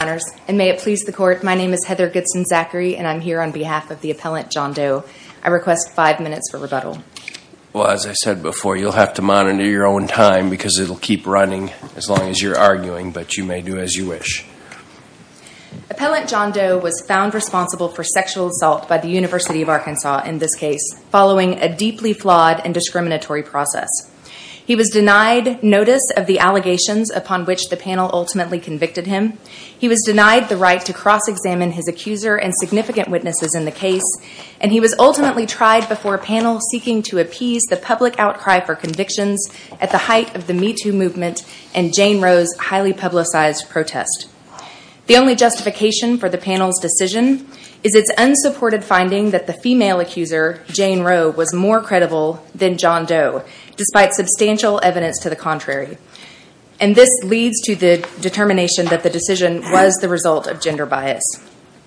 And may it please the court, my name is Heather Goodson-Zachary and I'm here on behalf of the Appellant John Doe. I request five minutes for rebuttal. Well, as I said before, you'll have to monitor your own time because it'll keep running as long as you're arguing, but you may do as you wish. Appellant John Doe was found responsible for sexual assault by the University of Arkansas in this case, following a deeply flawed and discriminatory process. He was denied notice of the allegations upon which the panel ultimately convicted him. He was denied the right to cross-examine his accuser and significant witnesses in the case, and he was ultimately tried before a panel seeking to appease the public outcry for convictions at the height of the Me Too movement and Jane Roe's highly publicized protest. The only justification for the panel's decision is its unsupported finding that the female accuser, Jane Roe, was more credible than John Doe, despite substantial evidence to the contrary, and this leads to the determination that the decision was the result of gender bias.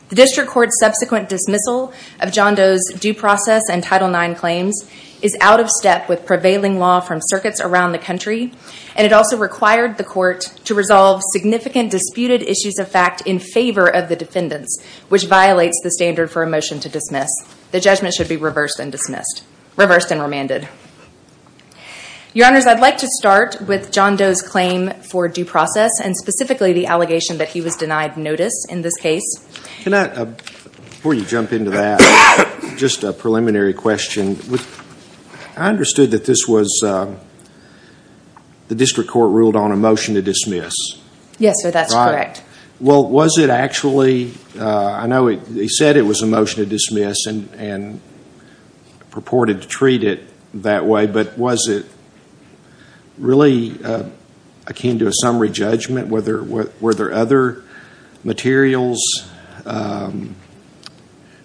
The district court's subsequent dismissal of John Doe's due process and Title IX claims is out of step with prevailing law from circuits around the country, and it also required the court to resolve significant disputed issues of fact in favor of the defendants, which violates the standard for a motion to dismiss. The judgment should be reversed and remanded. Your Honors, I'd like to start with John Doe's claim for due process and specifically the allegation that he was denied notice in this case. Can I, before you jump into that, just a preliminary question. I understood that this was, the district court ruled on a motion to dismiss. Yes, sir, that's correct. Right. Well, was it actually, I know he said it was a motion to dismiss and purported to dismiss, but was it really akin to a summary judgment? Were there other materials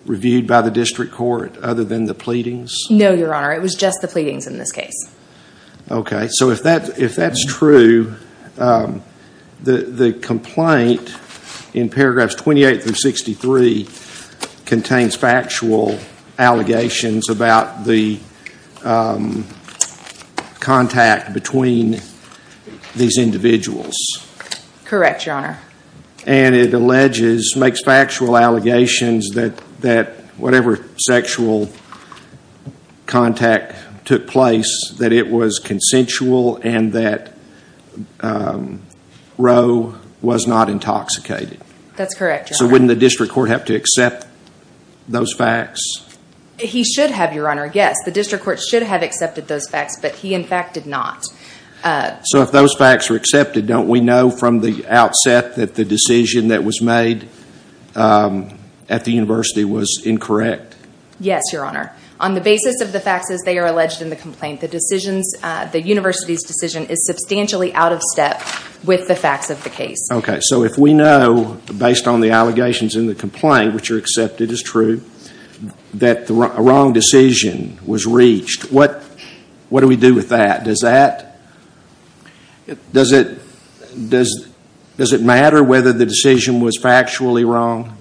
reviewed by the district court other than the pleadings? No, Your Honor, it was just the pleadings in this case. Okay, so if that's true, the complaint in paragraphs 28 through 63 contains factual allegations about the contact between these individuals. Correct, Your Honor. And it alleges, makes factual allegations that whatever sexual contact took place, that it was consensual and that Roe was not intoxicated. That's correct, Your Honor. So wouldn't the district court have to accept those facts? He should have, Your Honor, yes. The district court should have accepted those facts, but he in fact did not. So if those facts are accepted, don't we know from the outset that the decision that was made at the university was incorrect? Yes, Your Honor. On the basis of the facts as they are alleged in the complaint, the decision, the university's decision is substantially out of step with the facts of the case. Okay, so if we know, based on the allegations in the complaint, which are accepted as true, that a wrong decision was reached, what do we do with that? Does that, does it matter whether the decision was factually wrong?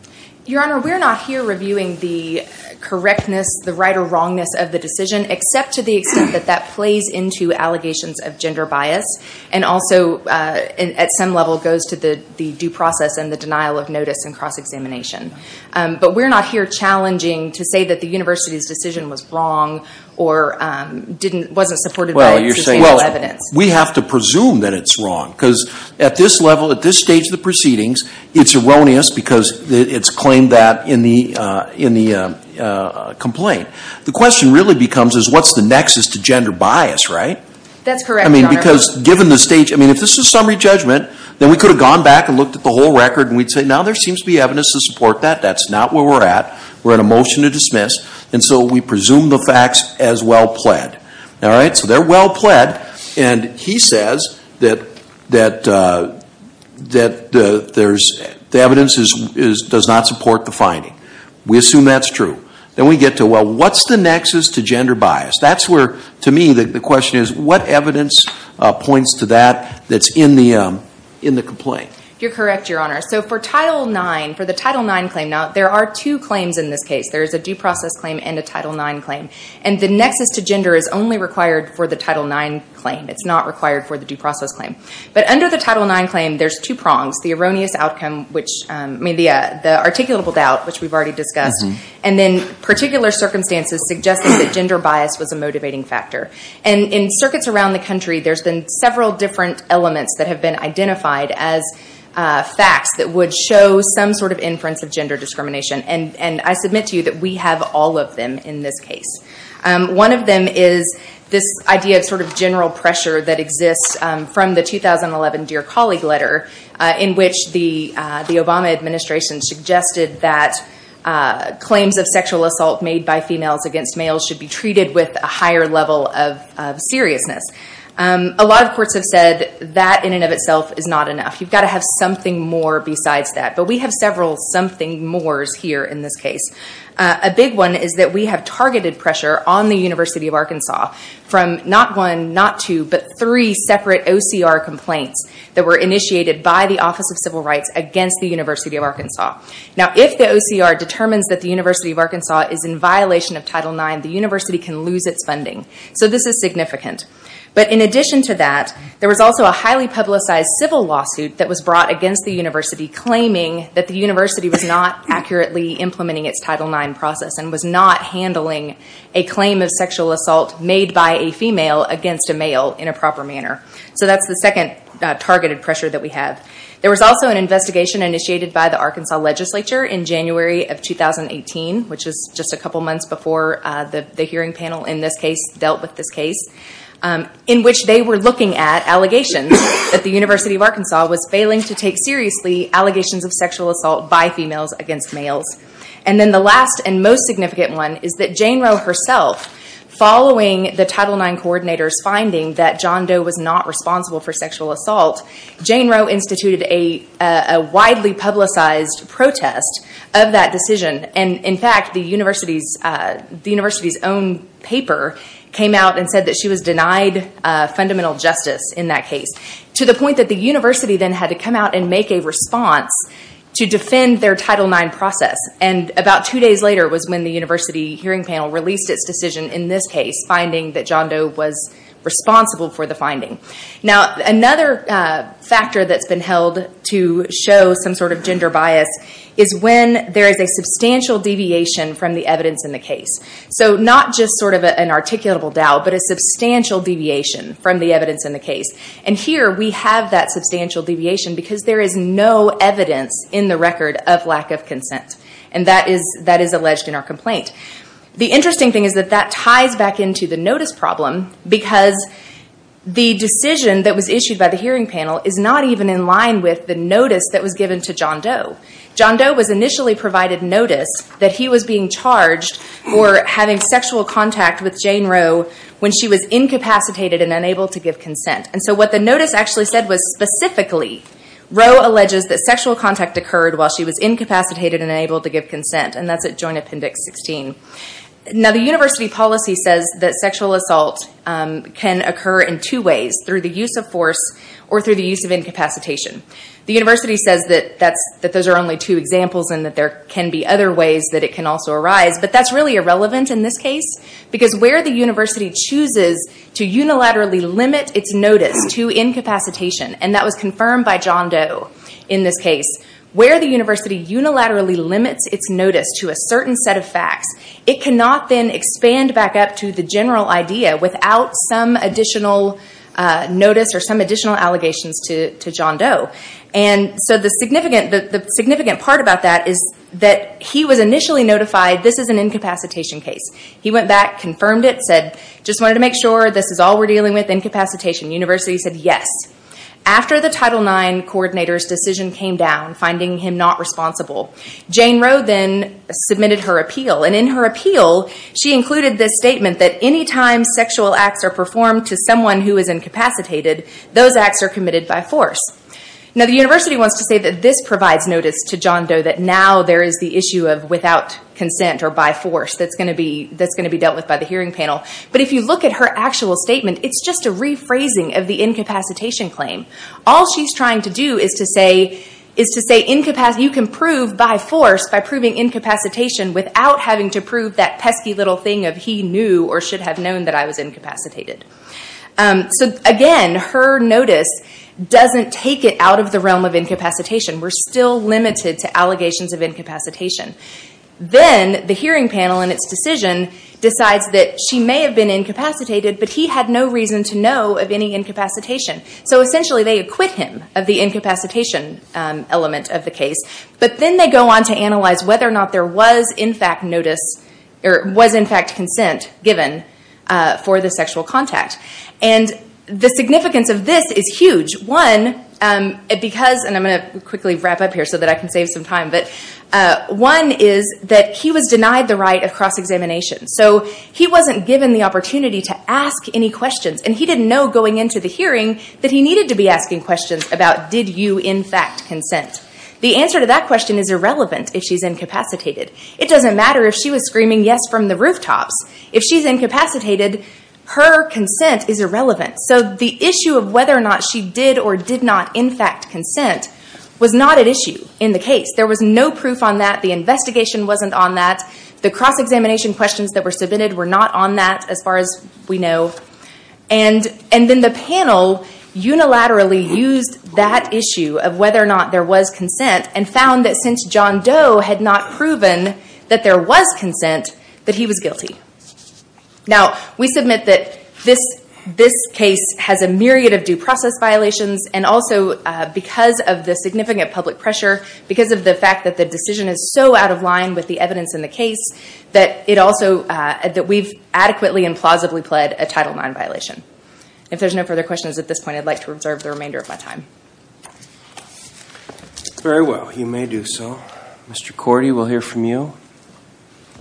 Your Honor, we're not here reviewing the correctness, the right or wrongness of the decision, except to the extent that that plays into allegations of gender bias, and also at some level goes to the due process and the denial of notice and cross-examination. But we're not here challenging to say that the university's decision was wrong or wasn't supported by substantial evidence. Well, we have to presume that it's wrong, because at this level, at this stage of the proceedings, it's erroneous because it's claimed that in the complaint. The question really becomes is what's the nexus to gender bias, right? That's correct, Your Honor. I mean, because given the stage, I mean, if this is summary judgment, then we could have gone back and looked at the whole record and we'd say, now there seems to be evidence to support that. That's not where we're at. We're in a motion to dismiss, and so we presume the facts as well pled. All right? So they're well pled, and he says that the evidence does not support the finding. We assume that's true. Then we get to, well, what's the nexus to gender bias? That's where, to me, the question is, what evidence points to that that's in the complaint? You're correct, Your Honor. So for Title IX, for the Title IX claim, there are two claims in this case. There is a due process claim and a Title IX claim. And the nexus to gender is only required for the Title IX claim. It's not required for the due process claim. But under the Title IX claim, there's two prongs, the erroneous outcome, which, I mean, the articulable doubt, which we've already discussed, and then particular circumstances suggesting that gender bias was a motivating factor. And in circuits around the country, there's been several different elements that have been identified as facts that would show some sort of inference of gender discrimination. And I submit to you that we have all of them in this case. One of them is this idea of sort of general pressure that exists from the 2011 Dear Colleague Letter, in which the Obama administration suggested that claims of sexual assault made by females against males should be treated with a higher level of seriousness. A lot of courts have said that in and of itself is not enough. You've got to have something more besides that. But we have several something mores here in this case. A big one is that we have targeted pressure on the University of Arkansas from not one, not two, but three separate OCR complaints that were initiated by the Office of Civil Rights against the University of Arkansas. Now, if the OCR determines that the University of Arkansas is in violation of Title IX, the university can lose its funding. So this is significant. But in addition to that, there was also a highly publicized civil lawsuit that was brought against the university claiming that the university was not accurately implementing its Title IX process and was not handling a claim of sexual assault made by a female against a male in a proper manner. So that's the second targeted pressure that we have. There was also an investigation initiated by the Arkansas legislature in January of 2018, which is just a couple months before the hearing panel in this case dealt with this case, in which they were looking at allegations that the University of Arkansas was failing to take seriously allegations of sexual assault by females against males. And then the last and most significant one is that Jane Roe herself, following the Title IX coordinator's finding that John Doe was not responsible for sexual assault, Jane Roe instituted a widely publicized protest of that decision. And in fact, the university's own paper came out and said that she was denied fundamental justice in that case, to the point that the university then had to come out and make a response to defend their Title IX process. And about two days later was when the university hearing panel released its decision in this case, finding that John Doe was responsible for the finding. Now, another factor that's been held to show some sort of gender bias is when there is a substantial deviation from the evidence in the case. So not just sort of an articulable doubt, but a substantial deviation from the evidence in the case. And here we have that substantial deviation because there is no evidence in the record of lack of consent. And that is alleged in our complaint. The interesting thing is that that ties back into the notice problem, because the decision that was issued by the hearing panel is not even in line with the notice that was given to John Doe. John Doe was initially provided notice that he was being charged for having sexual contact with Jane Rowe when she was incapacitated and unable to give consent. And so what the notice actually said was specifically, Rowe alleges that sexual contact occurred while she was incapacitated and unable to give consent. And that's at Joint Appendix 16. Now, the university policy says that sexual assault can occur in two ways, through the use of force or through the use of incapacitation. The university says that those are only two examples and that there can be other ways that it can also arise. But that's really irrelevant in this case, because where the university chooses to unilaterally limit its notice to incapacitation, and that was confirmed by John Doe in this case, where the university unilaterally limits its notice to a certain set of facts, it cannot then expand back up to the general idea without some additional notice or some additional allegations to John Doe. And so the significant part about that is that he was initially notified, this is an incapacitation case. He went back, confirmed it, said, just wanted to make sure this is all we're dealing with, incapacitation. The university said yes. After the Title IX coordinator's decision came down, finding him not responsible, Jane Roe then submitted her appeal, and in her appeal, she included this statement that any time sexual acts are performed to someone who is incapacitated, those acts are committed by force. Now the university wants to say that this provides notice to John Doe, that now there is the issue of without consent or by force, that's going to be dealt with by the hearing panel. But if you look at her actual statement, it's just a rephrasing of the incapacitation claim. All she's trying to do is to say, you can prove by force, by proving incapacitation, without having to prove that pesky little thing of he knew or should have known that I was incapacitated. So again, her notice doesn't take it out of the realm of incapacitation. We're still limited to allegations of incapacitation. Then the hearing panel, in its decision, decides that she may have been incapacitated, but he had no reason to know of any incapacitation. So essentially they acquit him of the incapacitation element of the case. But then they go on to analyze whether or not there was in fact consent given for the sexual contact. And the significance of this is huge. One, because, and I'm going to quickly wrap up here so that I can save some time, but one is that he was denied the right of cross-examination. So he wasn't given the opportunity to ask any questions. And he didn't know going into the hearing that he needed to be asking questions about did you in fact consent. The answer to that question is irrelevant if she's incapacitated. It doesn't matter if she was screaming yes from the rooftops. If she's incapacitated, her consent is irrelevant. So the issue of whether or not she did or did not in fact consent was not at issue in the case. There was no proof on that. The investigation wasn't on that. The cross-examination questions that were submitted were not on that, as far as we know. And then the panel unilaterally used that issue of whether or not there was consent, and found that since John Doe had not proven that there was consent, that he was guilty. Now, we submit that this case has a myriad of due process violations, and also because of the significant public pressure, because of the fact that the decision is so out of line with the evidence in the case, that we've adequately and plausibly pled a Title IX violation. If there's no further questions at this point, I'd like to reserve the remainder of my time. Very well. You may do so. Mr. Cordy, we'll hear from you.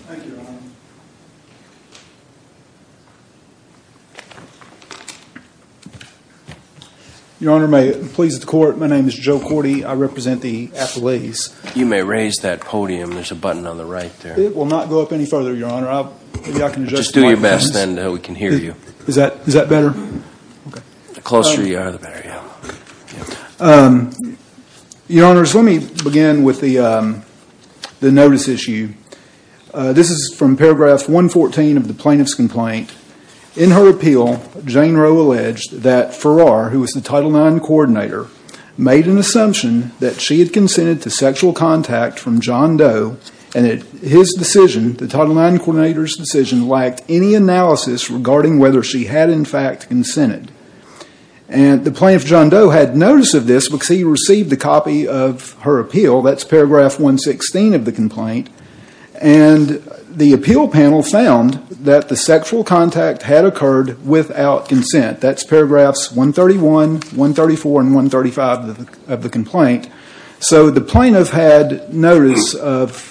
Thank you, Your Honor. Your Honor, may it please the Court, my name is Joe Cordy. I represent the athletes. You may raise that podium. There's a button on the right there. It will not go up any further, Your Honor. Just do your best, then we can hear you. Is that better? The closer you are, the better. Your Honors, let me begin with the notice issue. This is from paragraph 114 of the plaintiff's complaint. In her appeal, Jane Roe alleged that Farrar, who was the Title IX coordinator, made an assumption that she had consented to sexual contact from John Doe, and that his decision, the Title IX coordinator's decision, lacked any analysis regarding whether she had in fact consented. The plaintiff, John Doe, had notice of this because he received a copy of her appeal. That's paragraph 116 of the complaint. The appeal panel found that the sexual contact had occurred without consent. That's paragraphs 131, 134, and 135 of the complaint. So the plaintiff had notice of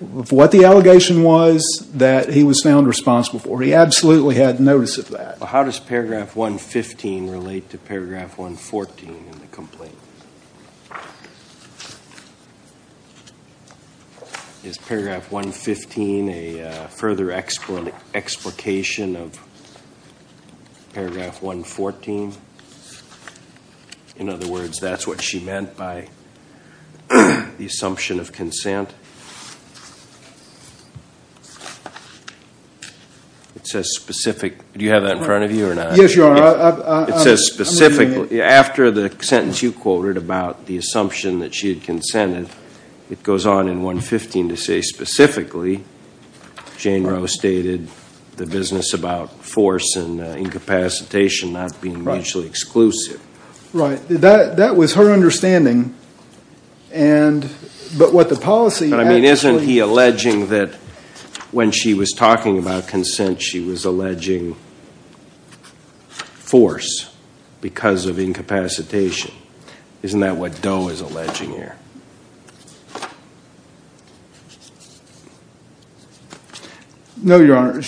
what the allegation was that he was found responsible for. He absolutely had notice of that. How does paragraph 115 relate to paragraph 114 in the complaint? Is paragraph 115 a further explication of paragraph 115? In other words, that's what she meant by the assumption of consent? Do you have that in front of you or not? Yes, Your Honor. After the sentence you quoted about the assumption that she had consented, it goes on in 115 to say specifically, Jane Roe stated the business about force and incapacitation not being mutually exclusive. That was her understanding. Isn't he alleging that when she was talking about consent she was alleging force because of incapacitation? Isn't that what Doe is alleging here? No, Your Honor.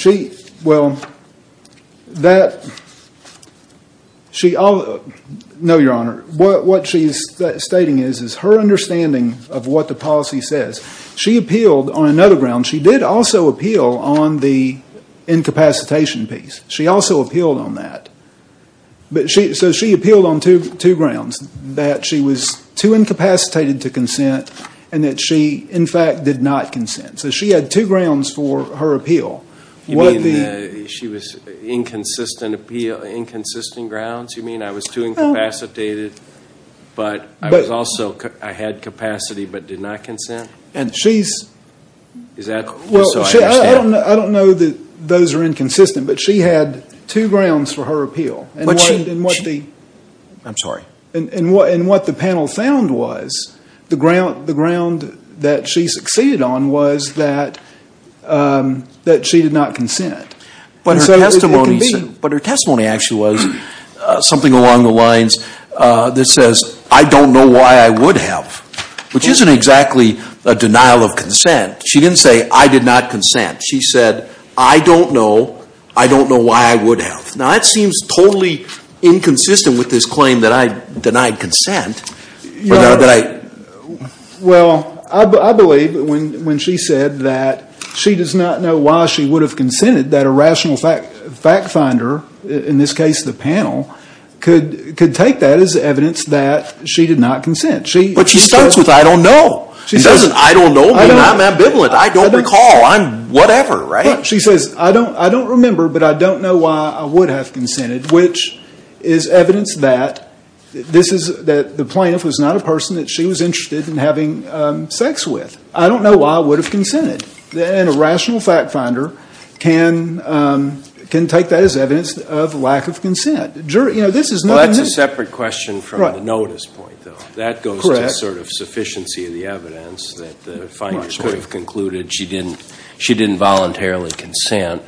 No, Your Honor. What she's stating is her understanding of what the policy says. She appealed on another ground. She did also appeal on the incapacitation piece. She also appealed on that. She appealed on two grounds. That she was too incapacitated to consent and that she, in fact, did not consent. She had two grounds for her appeal. She was inconsistent appeal, inconsistent grounds? You mean I was too incapacitated but I had capacity but did not consent? I don't know that those are inconsistent but she had two grounds for her appeal. I'm sorry. What the panel found was the ground that she succeeded on was that she did not consent. But her testimony actually was something along the lines that says I don't know why I would have. Which isn't exactly a denial of consent. She didn't say I did not consent. She said I don't know why I would have. Now that seems totally inconsistent with this claim that I denied consent. Well, I believe when she said that she does not know why she would have consented that a rational fact finder, in this case the panel, could take that as evidence that she did not consent. But she starts with I don't know. I'm ambivalent. I don't recall. I'm whatever. She says I don't remember but I don't know why I would have consented. Which is evidence that the plaintiff was not a person that she was interested in having sex with. I don't know why I would have consented. as evidence of lack of consent. Well, that's a separate question from the notice point, though. That goes to the sort of sufficiency of the evidence that the finder could have concluded she didn't voluntarily consent.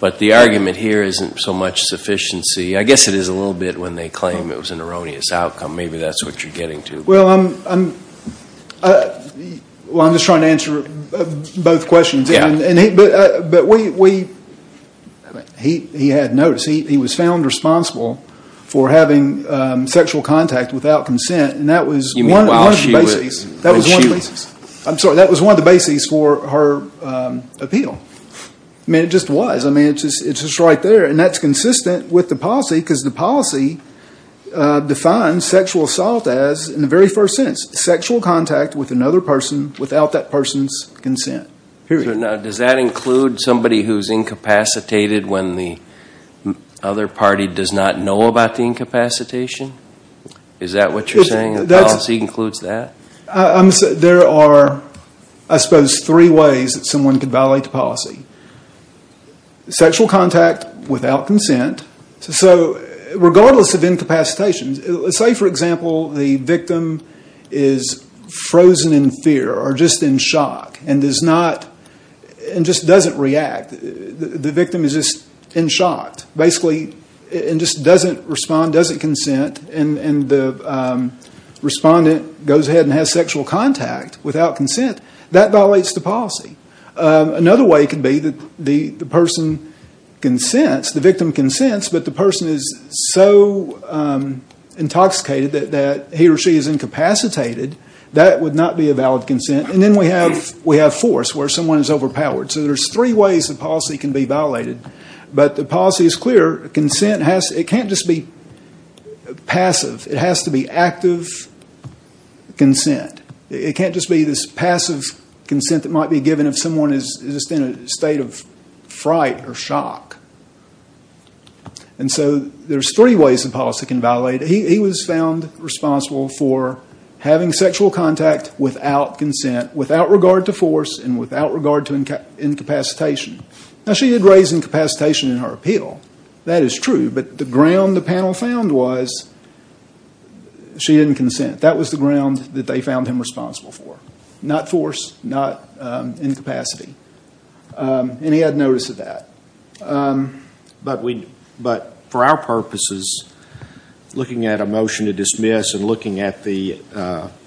But the argument here isn't so much sufficiency. I guess it is a little bit when they claim it was an erroneous outcome. Maybe that's what you're getting to. Well, I'm just trying to answer both questions. He had notice. He was found responsible for having sexual contact without consent. And that was one of the bases. I'm sorry. That was one of the bases for her appeal. I mean, it just was. It's just right there. And that's consistent with the policy because the policy defines sexual assault as, in the very first sentence, sexual contact with another person without that person's consent. Does that include somebody who's incapacitated when the other party does not know about the incapacitation? Is that what you're saying? The policy includes that? There are, I suppose, three ways that someone could violate the policy. Sexual contact without consent. So regardless of incapacitation, say, for example, the victim is frozen in fear or just in shock and just doesn't react. The victim is just in shock, basically, and just doesn't respond, doesn't consent. And the respondent goes ahead and has sexual contact without consent. That violates the policy. Another way could be that the person consents, the victim consents, but the person is so intoxicated that he or she is incapacitated. That would not be a valid consent. And then we have force, where someone is overpowered. So there's three ways the policy can be violated. But the policy is clear. It can't just be passive. It has to be active consent. It can't just be this passive consent that might be given if someone is just in a state of fright or shock. And so there's three ways the policy can violate it. He was found responsible for having sexual contact without consent, without regard to force and without regard to incapacitation. Now, she did raise incapacitation in her appeal. That is true, but the ground the panel found was she didn't consent. That was the ground that they found him responsible for. Not force, not incapacity. And he had notice of that. But for our purposes, looking at a motion to dismiss and looking at the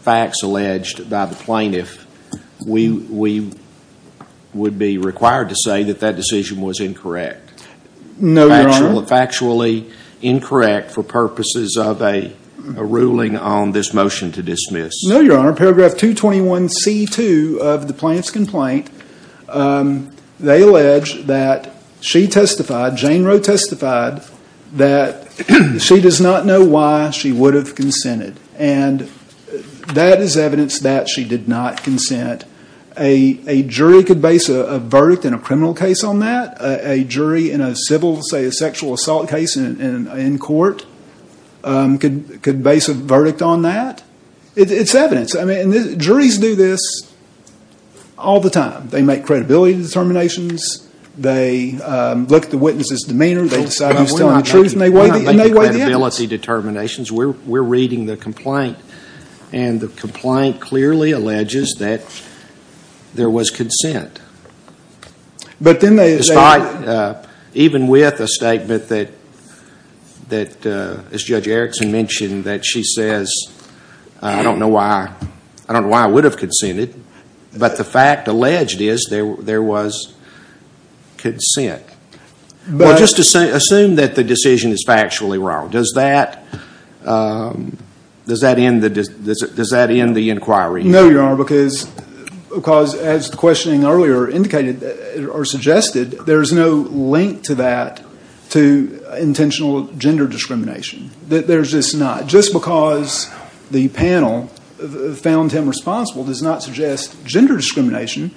facts alleged by the plaintiff, we would be required to say that that decision was incorrect. No, Your Honor. Factually incorrect for purposes of a ruling on this motion to dismiss. No, Your Honor. Paragraph 221C2 of the plaintiff's complaint, they allege that she testified, Jane Roe testified, that she does not know why she would have consented. And that is evidence that she did not consent. A jury could base a verdict in a criminal case on that. A jury in a civil, say, a sexual assault case in court could base a verdict on that. It's evidence. Juries do this all the time. They make credibility determinations. They look at the witness's demeanor. They decide who's telling the truth. And they weigh the evidence. We're not making credibility determinations. We're reading the complaint. And the complaint clearly alleges that there was consent. Despite, even with a statement that, as Judge Erickson mentioned, that she says, I don't know why I would have consented, but the fact alleged is there was consent. Well, just assume that the decision is factually wrong. Does that end the inquiry? No, Your Honor, because as the questioning earlier indicated or suggested, there is no link to that to intentional gender discrimination. There's just not. Just because the panel found him responsible does not suggest gender discrimination.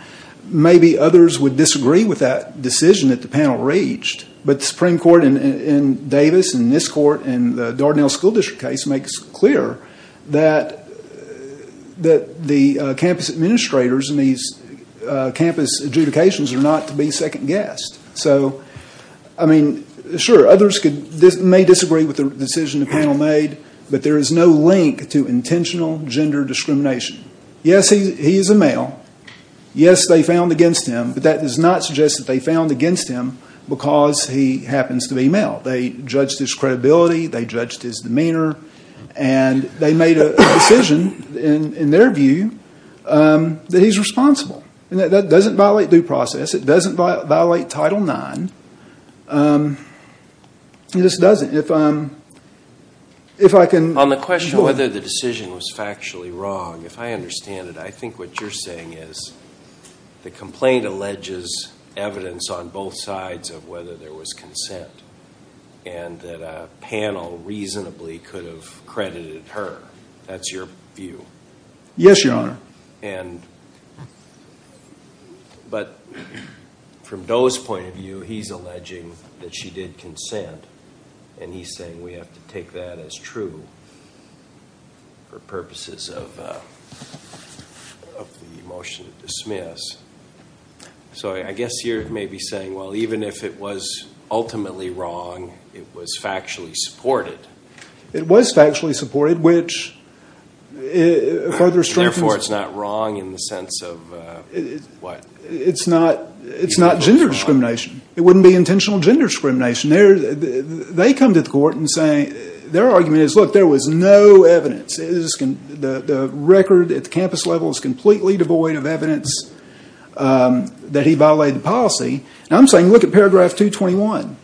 Maybe others would disagree with that decision that the panel reached, but the Supreme Court in Davis and this court and the Dardanelle School District case makes clear that the campus administrators and these campus adjudications are not to be second-guessed. I mean, sure, others may disagree with the decision the panel made, but there is no link to intentional gender discrimination. Yes, he is a male. Yes, they found against him, but that does not suggest that they found against him because he happens to be male. They judged his credibility. They judged his demeanor. And they made a decision, in their view, that he's responsible. That doesn't violate due process. It doesn't violate Title IX. It just doesn't. On the question whether the decision was factually wrong, if I understand it, I think what you're saying is the complaint alleges evidence on both sides of whether there was consent and that a panel reasonably could have credited her. That's your view. Yes, Your Honor. But from Doe's point of view, he's alleging that she did consent, and he's saying we have to take that as true for purposes of the motion to dismiss. So I guess you're maybe saying, well, even if it was ultimately wrong, it was factually supported. And therefore it's not wrong in the sense of what? It's not gender discrimination. It wouldn't be intentional gender discrimination. They come to the court and say their argument is, look, there was no evidence. The record at the campus level is completely devoid of evidence that he violated the policy. And I'm saying look at paragraph 221.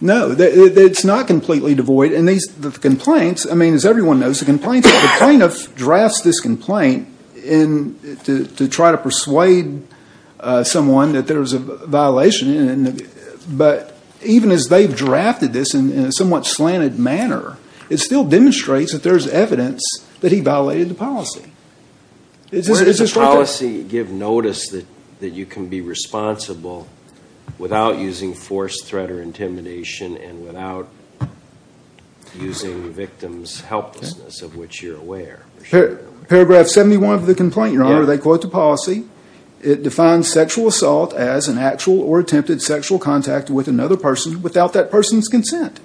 No, it's not completely devoid. As everyone knows, the plaintiff drafts this complaint to try to persuade someone that there was a violation. But even as they've drafted this in a somewhat slanted manner, it still demonstrates that there's evidence that he violated the policy. Where does the policy give notice that you can be responsible without using force, threat, or intimidation and without using the victim's helplessness of which you're aware? Paragraph 71 of the complaint, Your Honor, they quote the policy. It defines sexual assault as an actual or attempted sexual contact with another person without that person's consent.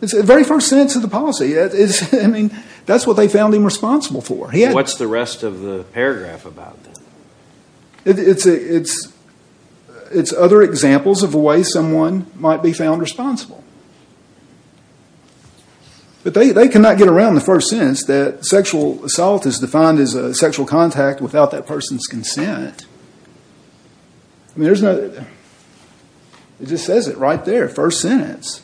It's the very first sentence of the policy. I mean, that's what they found him responsible for. What's the rest of the paragraph about? It's other examples of the way someone might be found responsible. But they cannot get around the first sentence that sexual assault is defined as a sexual contact without that person's consent. It just says it right there, first sentence.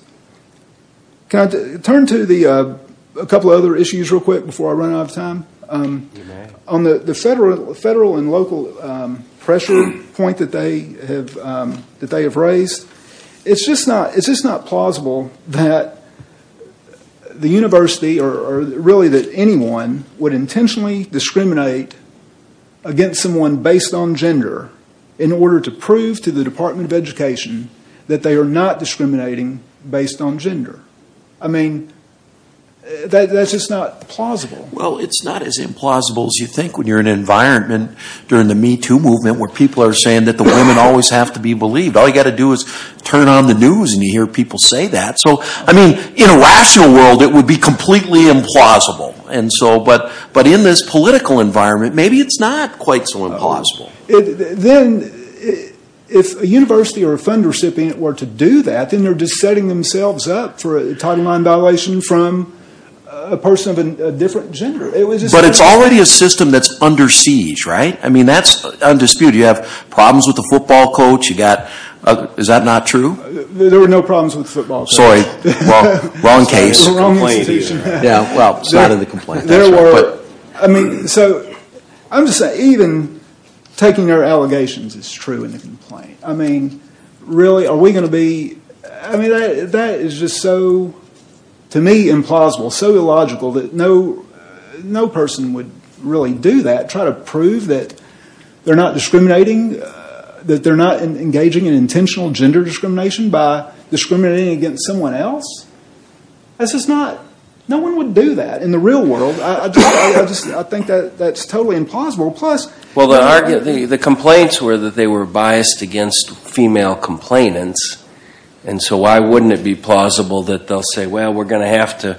Can I turn to a couple of other issues real quick before I run out of time? You may. On the federal and local pressure point that they have raised, it's just not plausible that the university or really that anyone would intentionally discriminate against someone based on gender in order to prove to the Department of Education that they are not discriminating based on gender. I mean, that's just not plausible. Well, it's not as implausible as you think when you're in an environment during the Me Too movement where people are saying that the women always have to be believed. All you've got to do is turn on the news and you hear people say that. So, I mean, in a rational world, it would be completely implausible. But in this political environment, maybe it's not quite so implausible. Then, if a university or a fund recipient were to do that, then they're just setting themselves up for a Title IX violation from a person of a different gender. But it's already a system that's under siege, right? I mean, that's undisputed. You have problems with the football coach. Is that not true? There were no problems with the football coach. Sorry, wrong case. Wrong institution. Yeah, well, it's not in the complaint. So, I'm just saying, even taking their allegations is true in the complaint. I mean, really, are we going to be... I mean, that is just so, to me, implausible, so illogical that no person would really do that, try to prove that they're not discriminating, that they're not engaging in intentional gender discrimination by discriminating against someone else. That's just not... No one would do that in the real world. I think that's totally implausible. Plus... Well, the complaints were that they were biased against female complainants. And so, why wouldn't it be plausible that they'll say, well, we're going to have to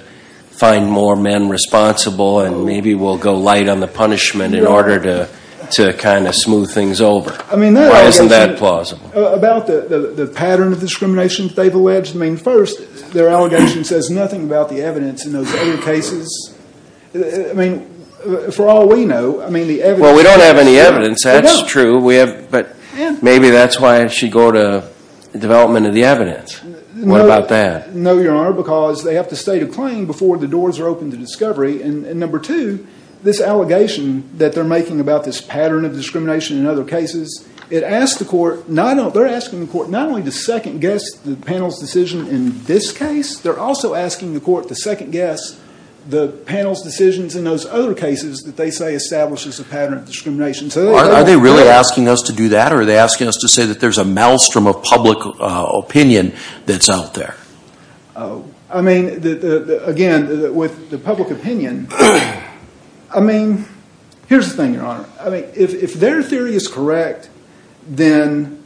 find more men responsible and maybe we'll go light on the punishment in order to kind of smooth things over? Why isn't that plausible? About the pattern of discrimination that they've alleged, I mean, first, their allegation says nothing about the evidence in those other cases. I mean, for all we know, I mean, the evidence... Well, we don't have any evidence. That's true. Maybe that's why she'd go to development of the evidence. What about that? No, Your Honor, because they have to state a claim before the doors are open to discovery. And number two, this allegation that they're making about this pattern of discrimination in other cases, it asks the court, they're asking the court not only to second-guess the panel's decision in this case, they're also asking the court to second-guess the panel's decisions in those other cases that they say establishes a pattern of discrimination. Are they really asking us to do that, or are they asking us to say that there's a maelstrom of public opinion that's out there? I mean, again, with the public opinion, I mean, here's the thing, Your Honor. I mean, if their theory is correct, then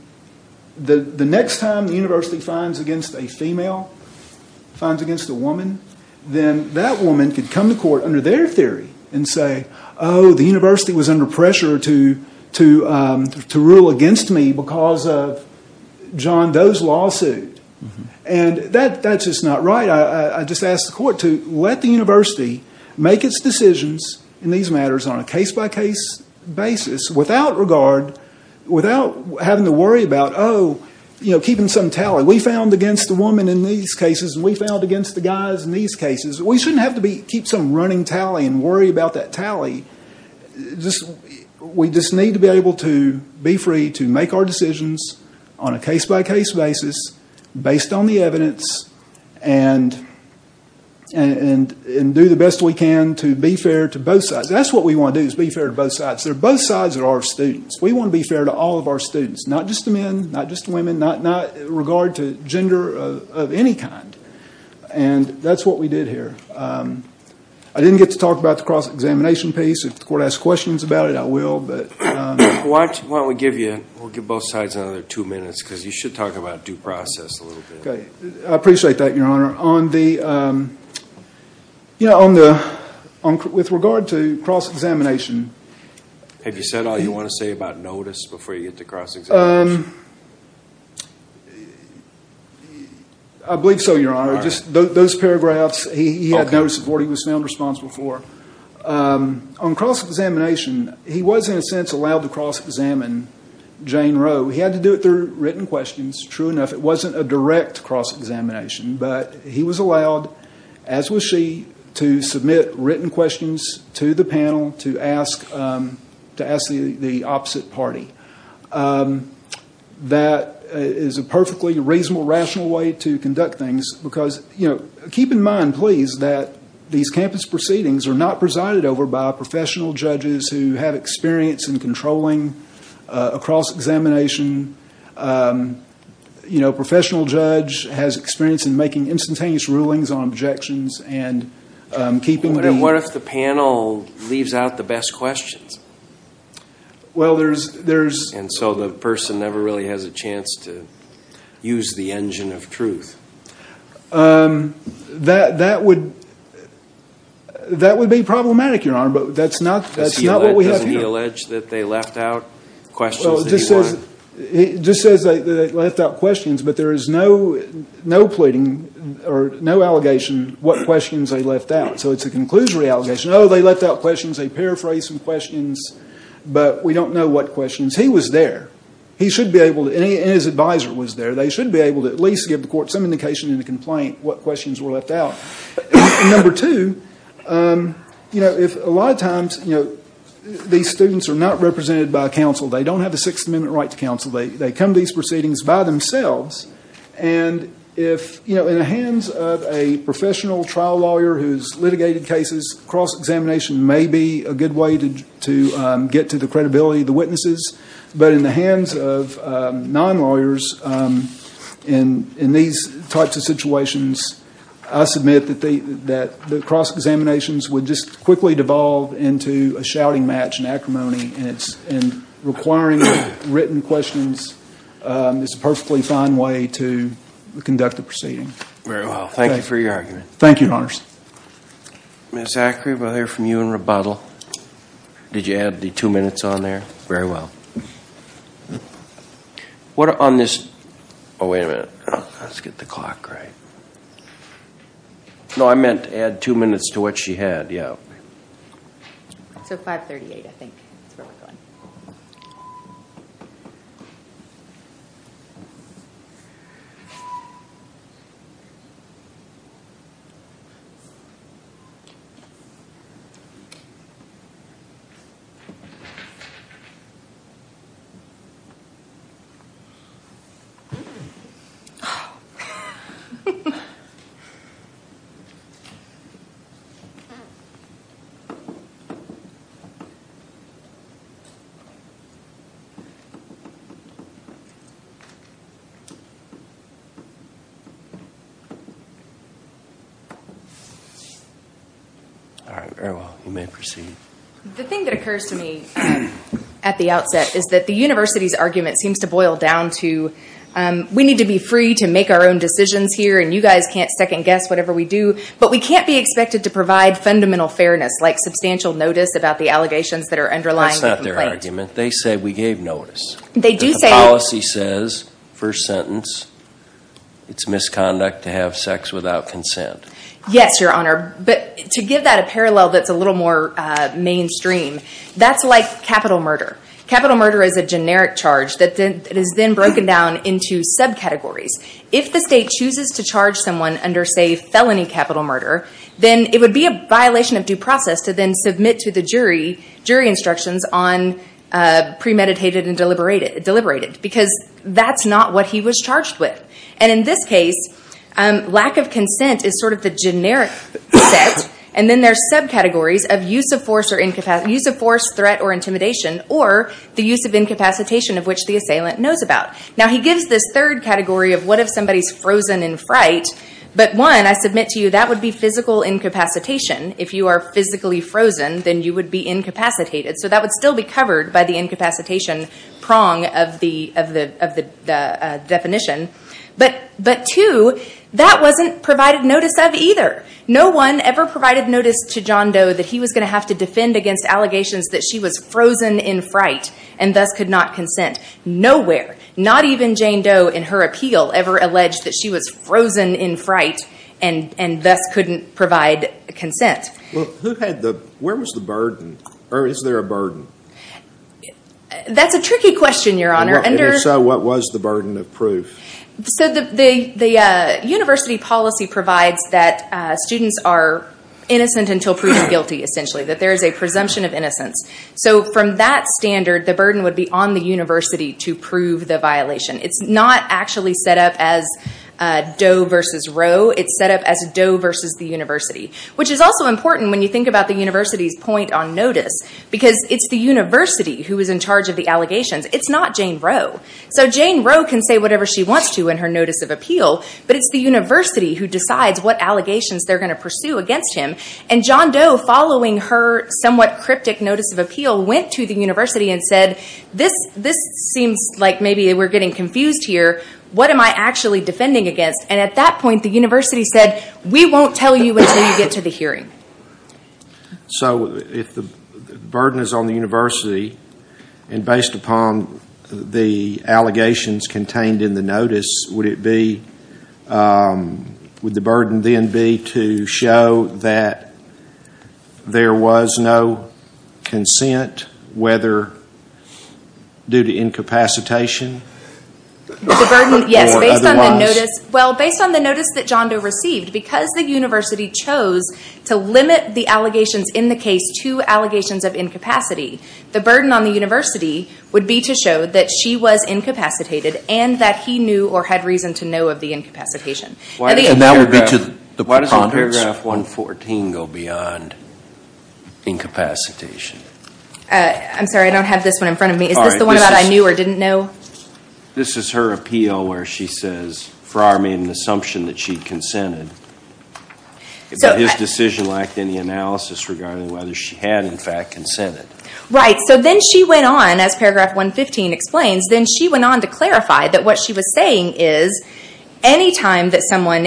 the next time the university fines against a female, fines against a woman, then that woman could come to court under their theory and say, oh, the university was under pressure to rule against me because of John Doe's lawsuit. And that's just not right. I just ask the court to let the university make its decisions in these matters on a case-by-case basis without regard, without having to worry about, oh, you know, keeping some tally. We found against the woman in these cases, and we found against the guys in these cases. We shouldn't have to keep some running tally and worry about that tally. We just need to be able to be free to make our decisions on a case-by-case basis based on the evidence and do the best we can to be fair to both sides. That's what we want to do is be fair to both sides. They're both sides of our students. We want to be fair to all of our students, not just the men, not just the women, not in regard to gender of any kind. And that's what we did here. I didn't get to talk about the cross-examination piece. If the court asks questions about it, I will. Why don't we give you both sides another two minutes because you should talk about due process a little bit. I appreciate that, Your Honor. With regard to cross-examination. Have you said all you want to say about notice before you get to cross-examination? I believe so, Your Honor. Those paragraphs, he had notice of what he was found responsible for. On cross-examination, he was, in a sense, allowed to cross-examine Jane Rowe. He had to do it through written questions. True enough, it wasn't a direct cross-examination. But he was allowed, as was she, to submit written questions to the panel to ask the opposite party. That is a perfectly reasonable, rational way to conduct things because keep in mind, please, that these campus proceedings are not presided over by professional judges who have experience in controlling a cross-examination. A professional judge has experience in making instantaneous rulings on objections. What if the panel leaves out the best questions? And so the person never really has a chance to use the engine of truth. That would be problematic, Your Honor, but that's not what we have here. Doesn't he allege that they left out questions that he wanted? He just says that they left out questions, but there is no pleading or no allegation what questions they left out. So it's a conclusory allegation. Oh, they left out questions. They paraphrased some questions, but we don't know what questions. He was there. He should be able to, and his advisor was there. They should be able to at least give the court some indication in the complaint what questions were left out. Number two, a lot of times these students are not represented by counsel. They don't have a Sixth Amendment right to counsel. They come to these proceedings by themselves. And in the hands of a professional trial lawyer who has litigated cases, cross-examination may be a good way to get to the credibility of the witnesses. But in the hands of non-lawyers in these types of situations, I submit that the cross-examinations would just quickly devolve into a shouting match, an acrimony, and requiring written questions is a perfectly fine way to conduct the proceeding. Very well. Thank you for your argument. Thank you, Your Honors. Ms. Ackrey, we'll hear from you in rebuttal. Did you add the two minutes on there? Very well. What on this – oh, wait a minute. Let's get the clock right. No, I meant add two minutes to what she had, yeah. So 538, I think, is where we're going. All right. Very well. You may proceed. The thing that occurs to me at the outset is that the university's argument seems to boil down to we need to be free to make our own decisions here and you guys can't second guess whatever we do, but we can't be expected to provide fundamental fairness, like substantial notice about the allegations that are underlying the complaint. That's not their argument. They say we gave notice. They do say – The policy says, first sentence, it's misconduct to have sex without consent. Yes, Your Honor. But to give that a parallel that's a little more mainstream, that's like capital murder. Capital murder is a generic charge that is then broken down into subcategories. If the state chooses to charge someone under, say, felony capital murder, then it would be a violation of due process to then submit to the jury jury instructions on premeditated and deliberated because that's not what he was charged with. And in this case, lack of consent is sort of the generic set, and then there's subcategories of use of force, threat, or intimidation, or the use of incapacitation of which the assailant knows about. Now, he gives this third category of what if somebody's frozen in fright. But one, I submit to you, that would be physical incapacitation. If you are physically frozen, then you would be incapacitated. So that would still be covered by the incapacitation prong of the definition. But two, that wasn't provided notice of either. No one ever provided notice to John Doe that he was going to have to defend against allegations that she was frozen in fright and thus could not consent. Nowhere, not even Jane Doe in her appeal ever alleged that she was frozen in fright and thus couldn't provide consent. Well, who had the, where was the burden, or is there a burden? That's a tricky question, Your Honor. And if so, what was the burden of proof? So the university policy provides that students are innocent until proven guilty, essentially, that there is a presumption of innocence. So from that standard, the burden would be on the university to prove the violation. It's not actually set up as Doe versus Rowe. It's set up as Doe versus the university, which is also important when you think about the university's point on notice because it's the university who is in charge of the allegations. It's not Jane Rowe. So Jane Rowe can say whatever she wants to in her notice of appeal, but it's the university who decides what allegations they're going to pursue against him. And John Doe, following her somewhat cryptic notice of appeal, went to the university and said, this seems like maybe we're getting confused here. What am I actually defending against? And at that point the university said, we won't tell you until you get to the hearing. So if the burden is on the university, and based upon the allegations contained in the notice, would the burden then be to show that there was no consent, whether due to incapacitation or otherwise? The burden, yes. Based on the notice that John Doe received, because the university chose to limit the allegations in the case to allegations of incapacity, the burden on the university would be to show that she was incapacitated and that he knew or had reason to know of the incapacitation. And that would be to the preponderance? Why doesn't paragraph 114 go beyond incapacitation? I'm sorry, I don't have this one in front of me. Is this the one about I knew or didn't know? This is her appeal where she says Farrar made an assumption that she consented, but his decision lacked any analysis regarding whether she had in fact consented. Right. So then she went on, as paragraph 115 explains, then she went on to clarify that what she was saying is any time that someone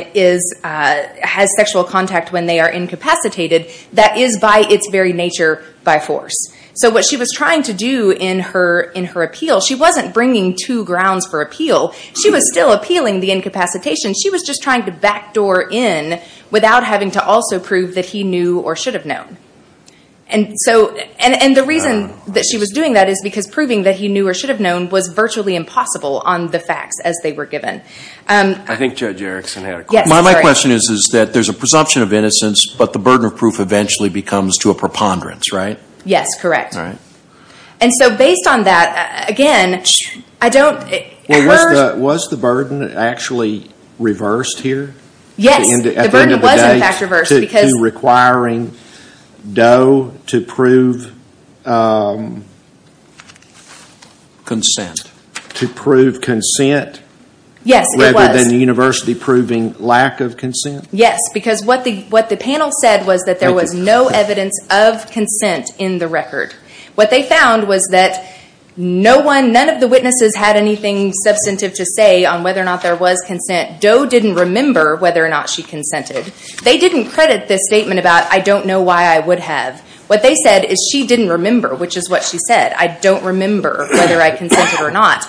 has sexual contact when they are incapacitated, that is by its very nature by force. So what she was trying to do in her appeal, she wasn't bringing two grounds for appeal. She was still appealing the incapacitation. She was just trying to backdoor in without having to also prove that he knew or should have known. And the reason that she was doing that is because proving that he knew or should have known was virtually impossible on the facts as they were given. I think Judge Erickson had a question. My question is that there is a presumption of innocence, but the burden of proof eventually becomes to a preponderance, right? Yes, correct. And so based on that, again, I don't Was the burden actually reversed here? Yes, the burden was in fact reversed because Doe to prove consent? To prove consent? Yes, it was. Rather than the university proving lack of consent? Yes, because what the panel said was that there was no evidence of consent in the record. What they found was that none of the witnesses had anything substantive to say on whether or not there was consent. Doe didn't remember whether or not she consented. They didn't credit this statement about, I don't know why I would have. What they said is she didn't remember, which is what she said. I don't remember whether I consented or not.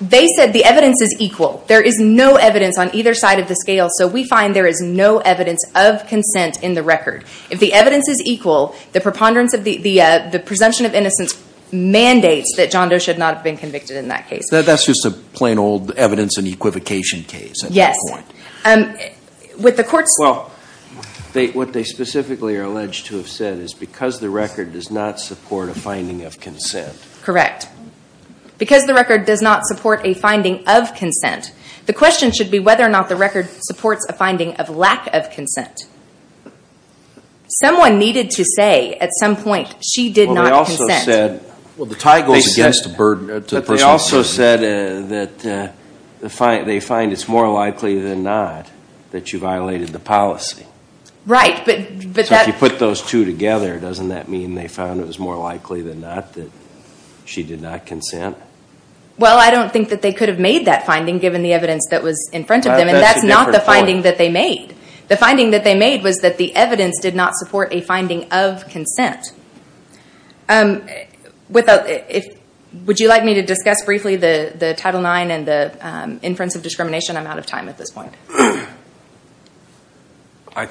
They said the evidence is equal. There is no evidence on either side of the scale, so we find there is no evidence of consent in the record. If the evidence is equal, the presumption of innocence mandates that John Doe should not have been convicted in that case. That's just a plain old evidence and equivocation case. Yes. With the court's- Well, what they specifically are alleged to have said is because the record does not support a finding of consent. Correct. Because the record does not support a finding of consent, the question should be whether or not the record supports a finding of lack of consent. Someone needed to say at some point she did not consent. Well, they also said- Well, the tie goes against the burden. They also said that they find it's more likely than not that you violated the policy. Right, but that- If you put those two together, doesn't that mean they found it was more likely than not that she did not consent? Well, I don't think that they could have made that finding, given the evidence that was in front of them, and that's not the finding that they made. The finding that they made was that the evidence did not support a finding of consent. Would you like me to discuss briefly the Title IX and the inference of discrimination? I'm out of time at this point. I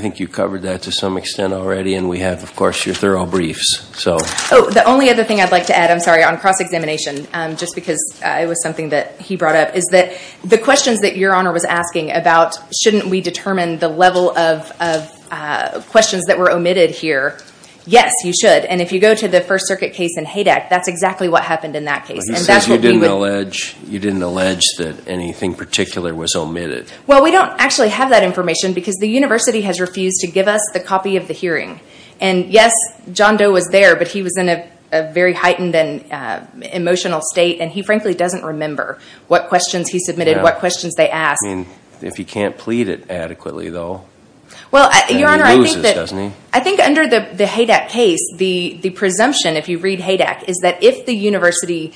think you covered that to some extent already, and we have, of course, your thorough briefs. Oh, the only other thing I'd like to add, I'm sorry, on cross-examination, just because it was something that he brought up, is that the questions that Your Honor was asking about shouldn't we determine the level of questions that were omitted here? Yes, you should. And if you go to the First Circuit case in HADAC, that's exactly what happened in that case. But you said you didn't allege that anything particular was omitted. Well, we don't actually have that information, because the university has refused to give us the copy of the hearing. And yes, John Doe was there, but he was in a very heightened and emotional state, and he frankly doesn't remember what questions he submitted, what questions they asked. I mean, if he can't plead it adequately, though, then he loses, doesn't he? Well, Your Honor, I think under the HADAC case, the presumption, if you read HADAC, is that if the university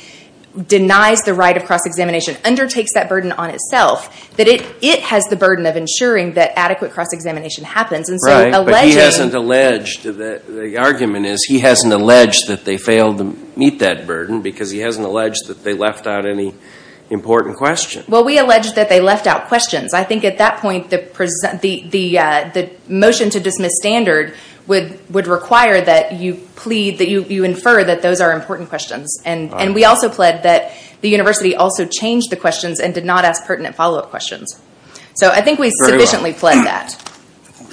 denies the right of cross-examination, undertakes that burden on itself, that it has the burden of ensuring that adequate cross-examination happens. Right, but he hasn't alleged. The argument is he hasn't alleged that they failed to meet that burden, because he hasn't alleged that they left out any important questions. Well, we allege that they left out questions. I think at that point, the motion to dismiss standard would require that you plead, that you infer that those are important questions. And we also pled that the university also changed the questions and did not ask pertinent follow-up questions. So I think we sufficiently pled that.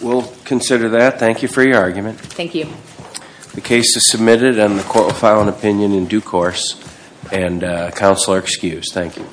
We'll consider that. Thank you for your argument. Thank you. The case is submitted, and the court will file an opinion in due course. And counsel are excused. Thank you.